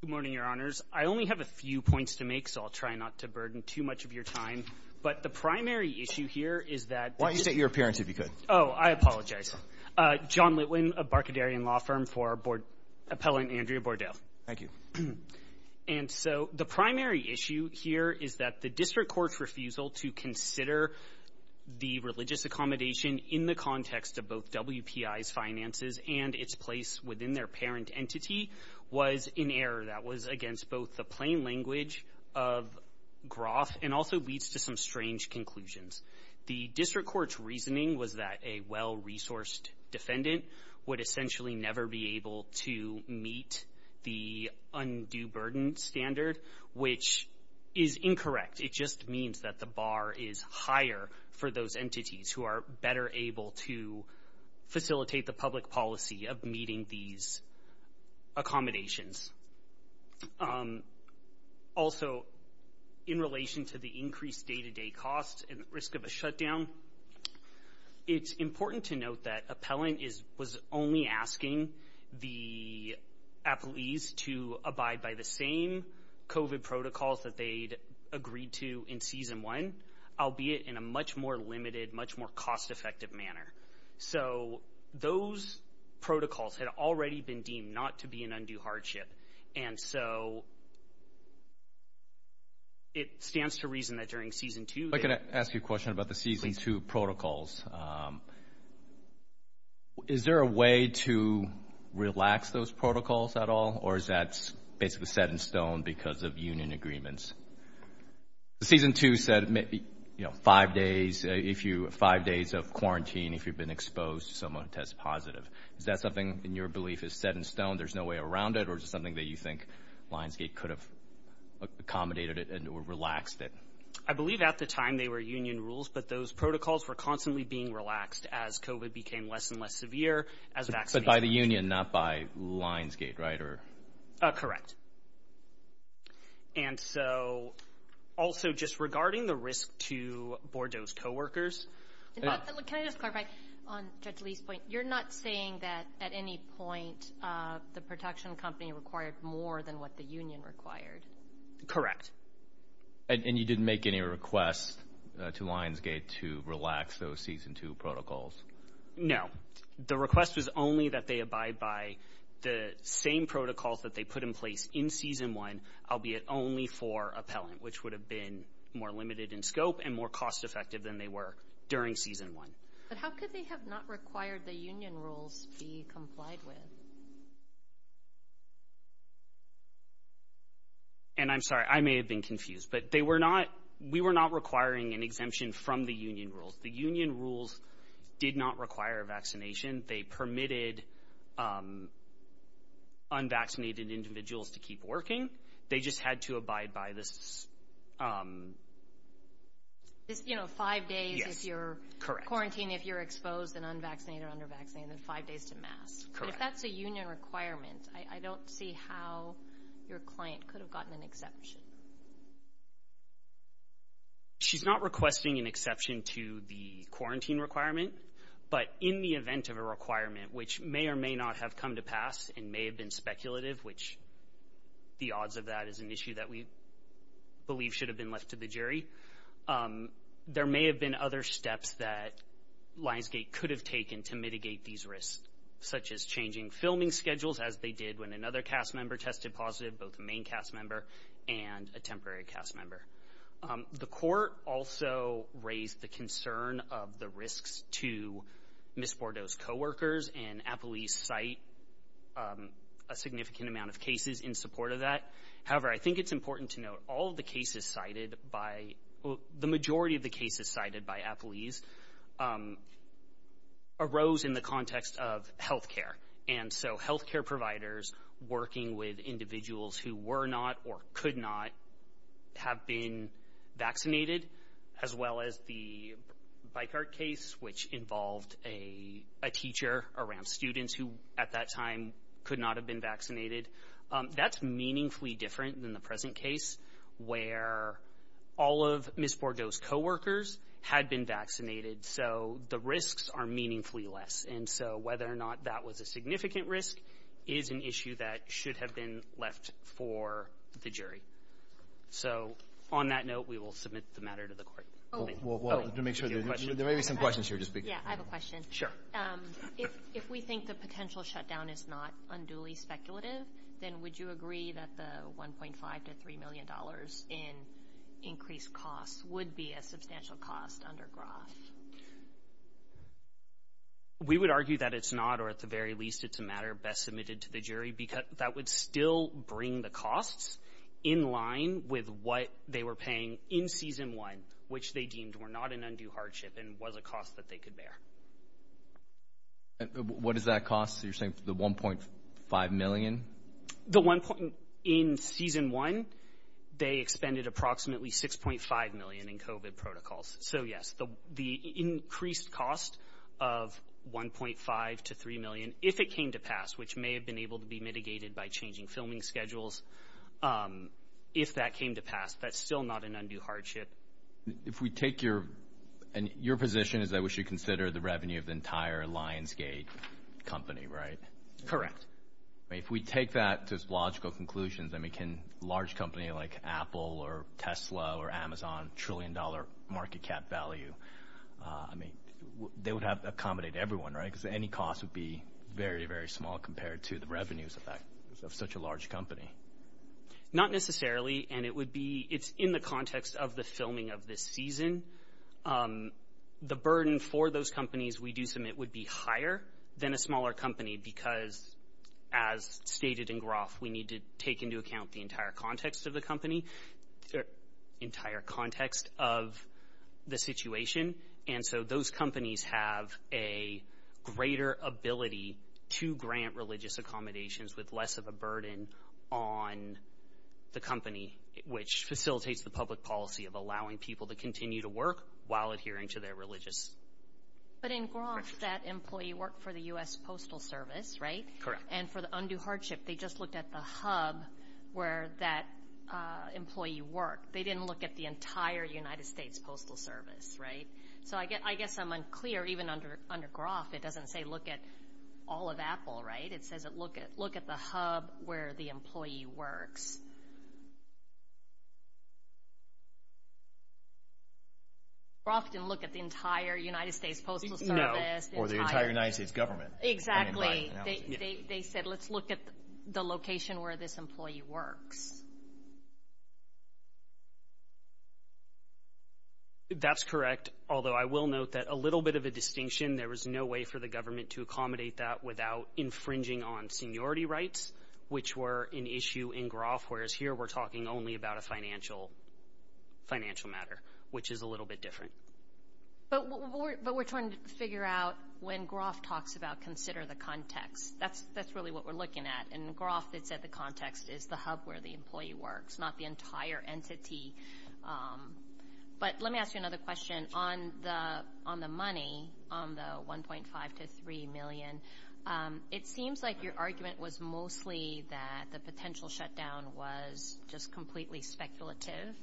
Good morning, Your Honors. I only have a few points to make, so I'll try not to burden too much of your time. But the primary issue here is that— Why don't you state your appearance, if you could? Oh, I apologize. John Litwin of Barkadarian Law Firm for Appellant Andrea Bordeaux. Thank you. And so the primary issue here is that the district court's refusal to consider the religious accommodation in the context of both WPI's finances and its place within their parent entity was in error. That was against both the plain language of Groff and also leads to some strange conclusions. The district court's reasoning was that a well-resourced defendant would essentially never be able to meet the undue burden standard, which is incorrect. It just means that the bar is higher for those entities who are better able to facilitate the public policy of meeting these accommodations. Also, in relation to the increased day-to-day costs and risk of a shutdown, it's important to note that appellant was only asking the appellees to abide by the same COVID protocols that they'd agreed to in Season 1, albeit in a much more limited, much more cost-effective manner. So those protocols had already been deemed not to be an undue hardship. And so it stands to reason that during Season 2— If I could ask you a question about the Season 2 protocols. Is there a way to relax those protocols at all, or is that basically set in stone because of union agreements? Season 2 said five days of quarantine if you've been exposed to someone who tests positive. Is that something in your belief is set in stone, there's no way around it, or is it something that you think Lionsgate could have accommodated it and relaxed it? I believe at the time they were union rules, but those protocols were constantly being relaxed as COVID became less and less severe. But by the union, not by Lionsgate, right? Correct. And so also just regarding the risk to Bordeaux's coworkers— Can I just clarify on Judge Lee's point? You're not saying that at any point the protection company required more than what the union required? Correct. And you didn't make any requests to Lionsgate to relax those Season 2 protocols? No. The request was only that they abide by the same protocols that they put in place in Season 1, albeit only for appellant, which would have been more limited in scope and more cost-effective than they were during Season 1. But how could they have not required the union rules be complied with? And I'm sorry, I may have been confused, but we were not requiring an exemption from the union rules. The union rules did not require vaccination. They permitted unvaccinated individuals to keep working. They just had to abide by this— You know, five days if you're quarantined, if you're exposed and unvaccinated or undervaccinated, and five days to mask. If that's a union requirement, I don't see how your client could have gotten an exception. She's not requesting an exception to the quarantine requirement, but in the event of a requirement which may or may not have come to pass and may have been speculative, which the odds of that is an issue that we believe should have been left to the jury, there may have been other steps that Lionsgate could have taken to mitigate these risks, such as changing filming schedules, as they did when another cast member tested positive, both a main cast member and a temporary cast member. The court also raised the concern of the risks to Ms. Bordeaux's co-workers, and Appleby's cite a significant amount of cases in support of that. However, I think it's important to note all of the cases cited by— The majority of the cases cited by Appleby's arose in the context of health care, and so health care providers working with individuals who were not or could not have been vaccinated, as well as the Bicart case, which involved a teacher around students who, at that time, could not have been vaccinated. That's meaningfully different than the present case, where all of Ms. Bordeaux's co-workers had been vaccinated, so the risks are meaningfully less. And so whether or not that was a significant risk is an issue that should have been left for the jury. So on that note, we will submit the matter to the court. Well, to make sure, there may be some questions here to speak to. Yeah, I have a question. Sure. If we think the potential shutdown is not unduly speculative, then would you agree that the $1.5 to $3 million in increased costs would be a substantial cost under Groff? We would argue that it's not, or at the very least, it's a matter best submitted to the jury, because that would still bring the costs in line with what they were paying in Season 1, which they deemed were not an undue hardship and was a cost that they could bear. What does that cost? You're saying the $1.5 million? In Season 1, they expended approximately $6.5 million in COVID protocols. So, yes, the increased cost of $1.5 to $3 million, if it came to pass, which may have been able to be mitigated by changing filming schedules, if that came to pass, that's still not an undue hardship. If we take your position is that we should consider the revenue of the entire Lionsgate company, right? Correct. If we take that to logical conclusions, I mean, can a large company like Apple or Tesla or Amazon, trillion-dollar market cap value, I mean, they would have to accommodate everyone, right? Because any cost would be very, very small compared to the revenues of such a large company. Not necessarily, and it's in the context of the filming of this season. The burden for those companies we do submit would be higher than a smaller company because, as stated in Groff, we need to take into account the entire context of the company, the entire context of the situation. And so those companies have a greater ability to grant religious accommodations with less of a burden on the company, which facilitates the public policy of allowing people to continue to work while adhering to their religious questions. But in Groff, that employee worked for the U.S. Postal Service, right? Correct. And for the undue hardship, they just looked at the hub where that employee worked. They didn't look at the entire United States Postal Service, right? So I guess I'm unclear. Even under Groff, it doesn't say look at all of Apple, right? It says look at the hub where the employee works. Groff didn't look at the entire United States Postal Service. No, or the entire United States government. They said let's look at the location where this employee works. That's correct, although I will note that a little bit of a distinction, there was no way for the government to accommodate that without infringing on seniority rights, which were an issue in Groff, whereas here we're talking only about a financial matter, which is a little bit different. But we're trying to figure out when Groff talks about consider the context. That's really what we're looking at. In Groff, it said the context is the hub where the employee works, not the entire entity. But let me ask you another question. On the money, on the $1.5 to $3 million, it seems like your argument was mostly that the potential shutdown was just completely speculative.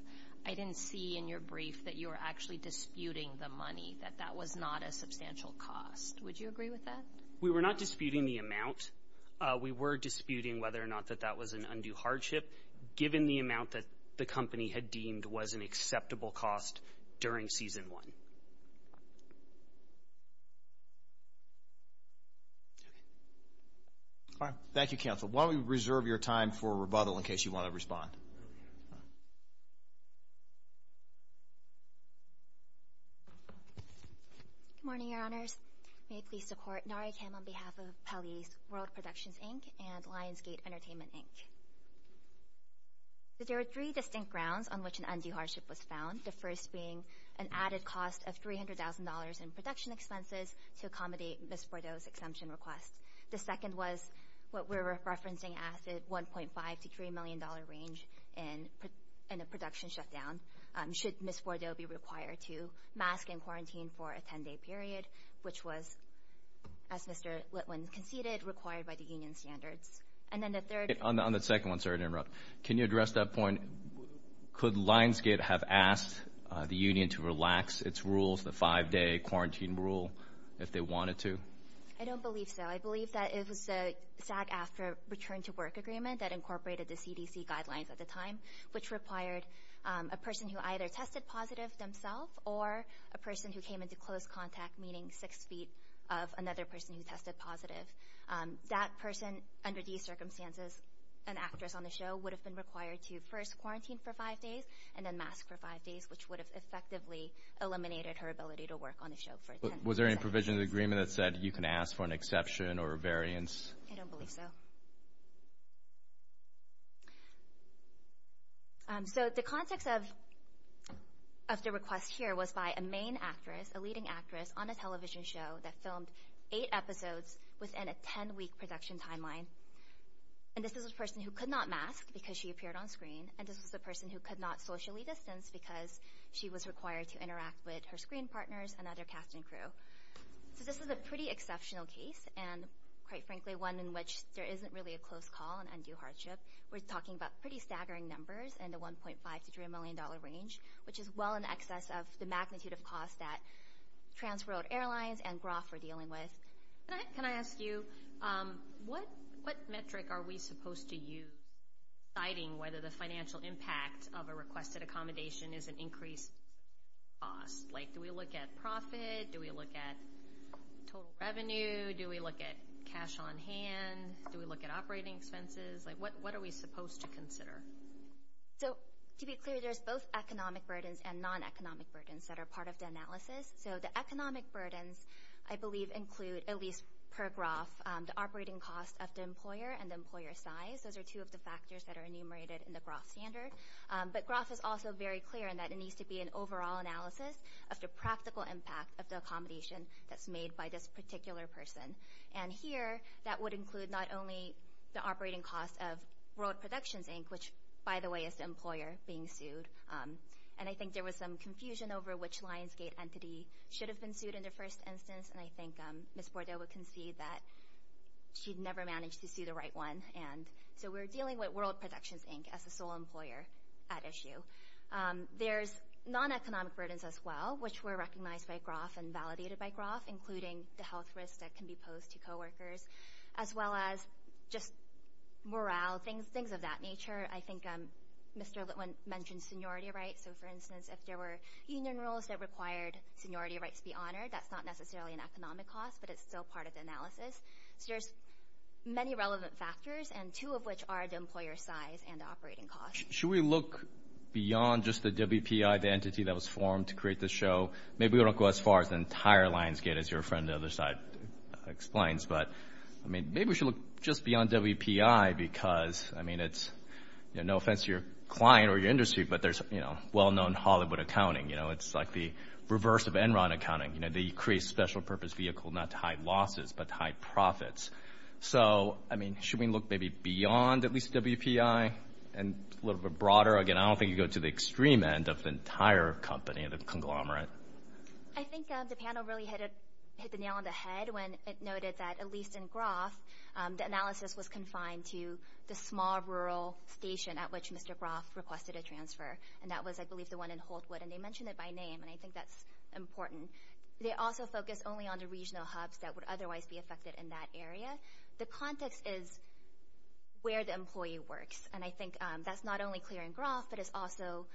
I didn't see in your brief that you were actually disputing the money, that that was not a substantial cost. Would you agree with that? We were not disputing the amount. We were disputing whether or not that that was an undue hardship, given the amount that the company had deemed was an acceptable cost during Season 1. Thank you, Counsel. Why don't we reserve your time for rebuttal in case you want to respond. Good morning, Your Honors. May I please support NARICAM on behalf of Pelley's World Productions, Inc. and Lionsgate Entertainment, Inc. There are three distinct grounds on which an undue hardship was found, the first being an added cost of $300,000 in production expenses to accommodate Ms. Bordeaux's exemption request. The second was what we're referencing as the $1.5 to $3 million range in a production shutdown. Should Ms. Bordeaux be required to mask and quarantine for a 10-day period, which was, as Mr. Litwin conceded, required by the union standards. And then the third— On the second one, sorry to interrupt. Can you address that point? Could Lionsgate have asked the union to relax its rules, the five-day quarantine rule, if they wanted to? I don't believe so. I believe that it was the SAG-AFTRA Return to Work Agreement that incorporated the CDC guidelines at the time, which required a person who either tested positive themselves or a person who came into close contact, meaning six feet of another person who tested positive. That person, under these circumstances, an actress on the show, would have been required to first quarantine for five days and then mask for five days, which would have effectively eliminated her ability to work on the show for 10 seconds. Was there any provision in the agreement that said you can ask for an exception or a variance? I don't believe so. So the context of the request here was by a main actress, a leading actress, on a television show that filmed eight episodes within a 10-week production timeline. And this was a person who could not mask because she appeared on screen, and this was a person who could not socially distance because she was required to interact with her screen partners and other cast and crew. So this is a pretty exceptional case and, quite frankly, one in which there isn't really a close call and undue hardship. We're talking about pretty staggering numbers in the $1.5 to $3 million range, which is well in excess of the magnitude of costs that Transworld Airlines and Groff are dealing with. Can I ask you, what metric are we supposed to use deciding whether the financial impact of a requested accommodation is an increased cost? Like, do we look at profit? Do we look at total revenue? Do we look at cash on hand? Do we look at operating expenses? Like, what are we supposed to consider? So to be clear, there's both economic burdens and non-economic burdens that are part of the analysis. So the economic burdens, I believe, include, at least per Groff, the operating cost of the employer and the employer size. Those are two of the factors that are enumerated in the Groff standard. But Groff is also very clear in that it needs to be an overall analysis of the practical impact of the accommodation that's made by this particular person. And here, that would include not only the operating cost of World Productions, Inc., which, by the way, is the employer being sued, and I think there was some confusion over which Lionsgate entity should have been sued in the first instance, and I think Ms. Bordoa can see that she never managed to sue the right one. And so we're dealing with World Productions, Inc. as the sole employer at issue. There's non-economic burdens as well, which were recognized by Groff and validated by Groff, including the health risks that can be posed to coworkers, as well as just morale, things of that nature. I think Mr. Litwin mentioned seniority rights. So, for instance, if there were union rules that required seniority rights to be honored, that's not necessarily an economic cost, but it's still part of the analysis. So there's many relevant factors, and two of which are the employer size and the operating cost. Should we look beyond just the WPI, the entity that was formed to create this show? Maybe we don't go as far as the entire Lionsgate, as your friend on the other side explains, but maybe we should look just beyond WPI because, I mean, it's no offense to your client or your industry, but there's well-known Hollywood accounting. It's like the reverse of Enron accounting. They create a special purpose vehicle not to hide losses but to hide profits. So, I mean, should we look maybe beyond at least WPI and a little bit broader? Again, I don't think you go to the extreme end of the entire company, the conglomerate. I think the panel really hit the nail on the head when it noted that, at least in Groff, the analysis was confined to the small rural station at which Mr. Groff requested a transfer, and that was, I believe, the one in Holtwood. And they mentioned it by name, and I think that's important. They also focused only on the regional hubs that would otherwise be affected in that area. The context is where the employee works, and I think that's not only clear in Groff, but it's also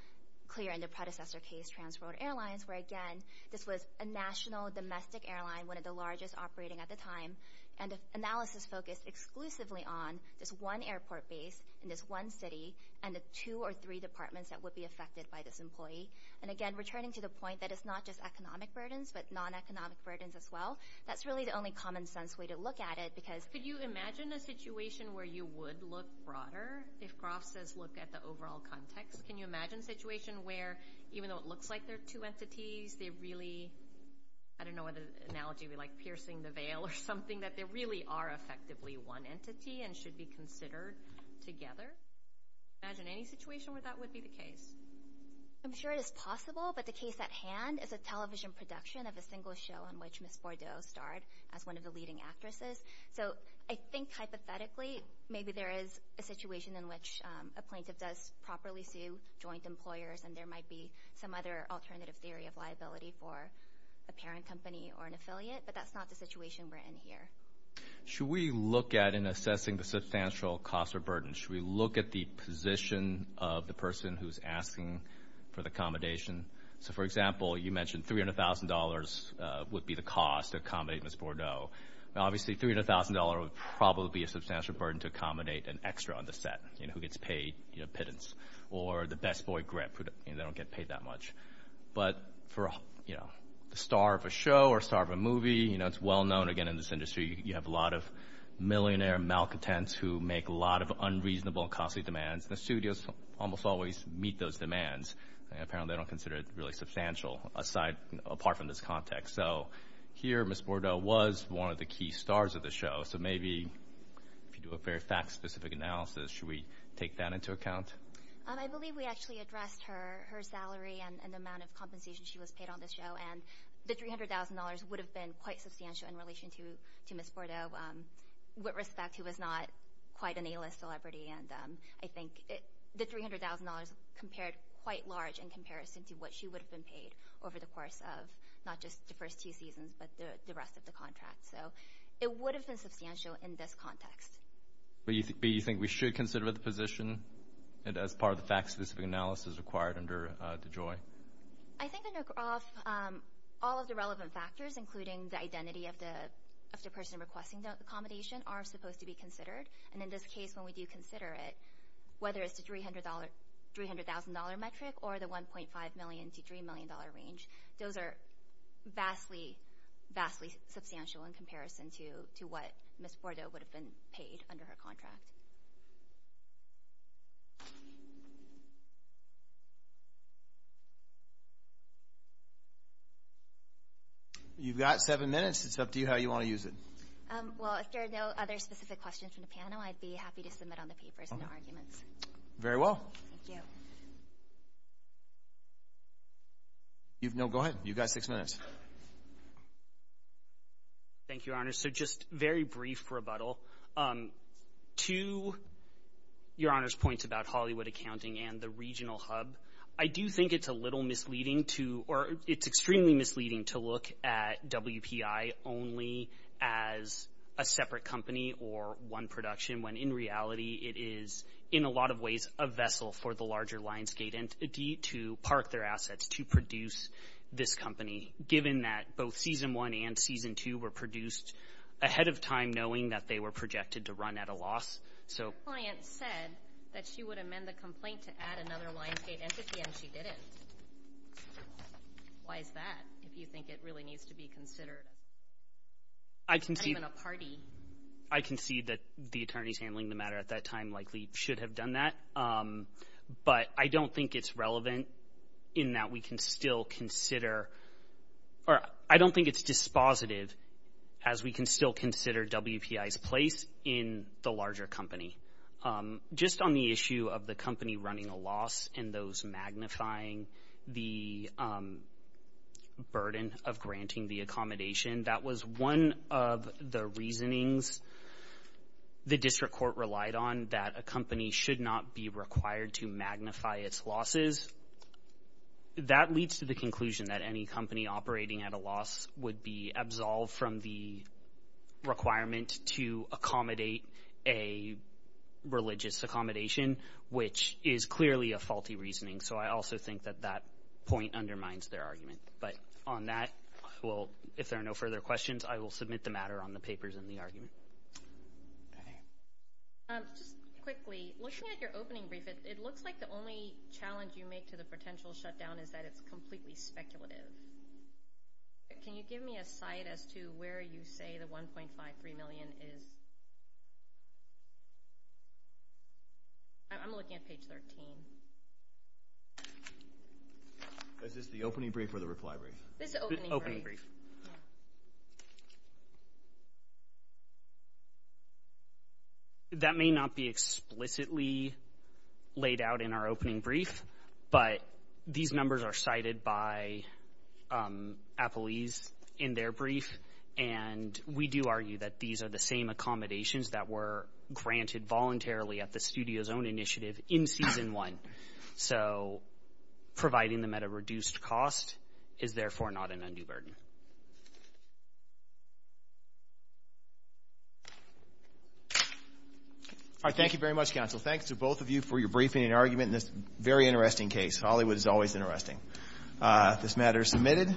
clear in the predecessor case, Transworld Airlines, where, again, this was a national domestic airline, one of the largest operating at the time, and the analysis focused exclusively on this one airport base in this one city and the two or three departments that would be affected by this employee. And, again, returning to the point that it's not just economic burdens but non-economic burdens as well, that's really the only common-sense way to look at it because— Could you imagine a situation where you would look broader if Groff says look at the overall context? Can you imagine a situation where, even though it looks like there are two entities, they really—I don't know what analogy we like, piercing the veil or something, that there really are effectively one entity and should be considered together? Can you imagine any situation where that would be the case? I'm sure it is possible, but the case at hand is a television production of a single show in which Miss Bordeaux starred as one of the leading actresses. So I think, hypothetically, maybe there is a situation in which a plaintiff does properly sue joint employers and there might be some other alternative theory of liability for a parent company or an affiliate, but that's not the situation we're in here. Should we look at, in assessing the substantial cost or burden, should we look at the position of the person who's asking for the accommodation? So, for example, you mentioned $300,000 would be the cost to accommodate Miss Bordeaux. Now, obviously, $300,000 would probably be a substantial burden to accommodate an extra on the set, who gets paid pittance, or the best boy, Griff, they don't get paid that much. But for a star of a show or a star of a movie, it's well-known, again, in this industry, you have a lot of millionaire malcontents who make a lot of unreasonable and costly demands, and the studios almost always meet those demands. Apparently, they don't consider it really substantial, apart from this context. So here, Miss Bordeaux was one of the key stars of the show, so maybe if you do a very fact-specific analysis, should we take that into account? I believe we actually addressed her salary and the amount of compensation she was paid on the show, and the $300,000 would have been quite substantial in relation to Miss Bordeaux, with respect, who was not quite an A-list celebrity, and I think the $300,000 compared quite large in comparison to what she would have been paid over the course of not just the first two seasons, but the rest of the contract. So it would have been substantial in this context. But you think we should consider the position as part of the fact-specific analysis required under DeJoy? I think all of the relevant factors, including the identity of the person requesting the accommodation, are supposed to be considered, and in this case, when we do consider it, whether it's the $300,000 metric or the $1.5 million to $3 million range, those are vastly, vastly substantial in comparison to what Miss Bordeaux would have been paid under her contract. You've got seven minutes. It's up to you how you want to use it. Well, if there are no other specific questions from the panel, I'd be happy to submit on the papers no arguments. Very well. Thank you. No, go ahead. You've got six minutes. Thank you, Your Honor. So just very brief rebuttal. To Your Honor's points about Hollywood Accounting and the regional hub, I do think it's a little misleading to or it's extremely misleading to look at WPI only as a separate company or one production when, in reality, it is, in a lot of ways, a vessel for the larger Lionsgate entity to park their assets to produce this company, given that both Season 1 and Season 2 were produced ahead of time, knowing that they were projected to run at a loss. Your client said that she would amend the complaint to add another Lionsgate entity, and she didn't. Why is that, if you think it really needs to be considered? I concede that the attorneys handling the matter at that time likely should have done that, but I don't think it's relevant in that we can still consider or I don't think it's dispositive, as we can still consider WPI's place in the larger company. Just on the issue of the company running a loss and those magnifying the burden of granting the accommodation, that was one of the reasonings the district court relied on, that a company should not be required to magnify its losses. That leads to the conclusion that any company operating at a loss would be absolved from the requirement to accommodate a religious accommodation, which is clearly a faulty reasoning. So I also think that that point undermines their argument. But on that, if there are no further questions, I will submit the matter on the papers in the argument. Just quickly, looking at your opening brief, it looks like the only challenge you make to the potential shutdown is that it's completely speculative. Can you give me a site as to where you say the $1.53 million is? I'm looking at page 13. Is this the opening brief or the reply brief? This is the opening brief. That may not be explicitly laid out in our opening brief, but these numbers are cited by Appalese in their brief, and we do argue that these are the same accommodations that were granted voluntarily at the studio's own initiative in Season 1. So providing them at a reduced cost is therefore not an undue burden. All right, thank you very much, counsel. Thanks to both of you for your briefing and argument in this very interesting case. Hollywood is always interesting. This matter is submitted.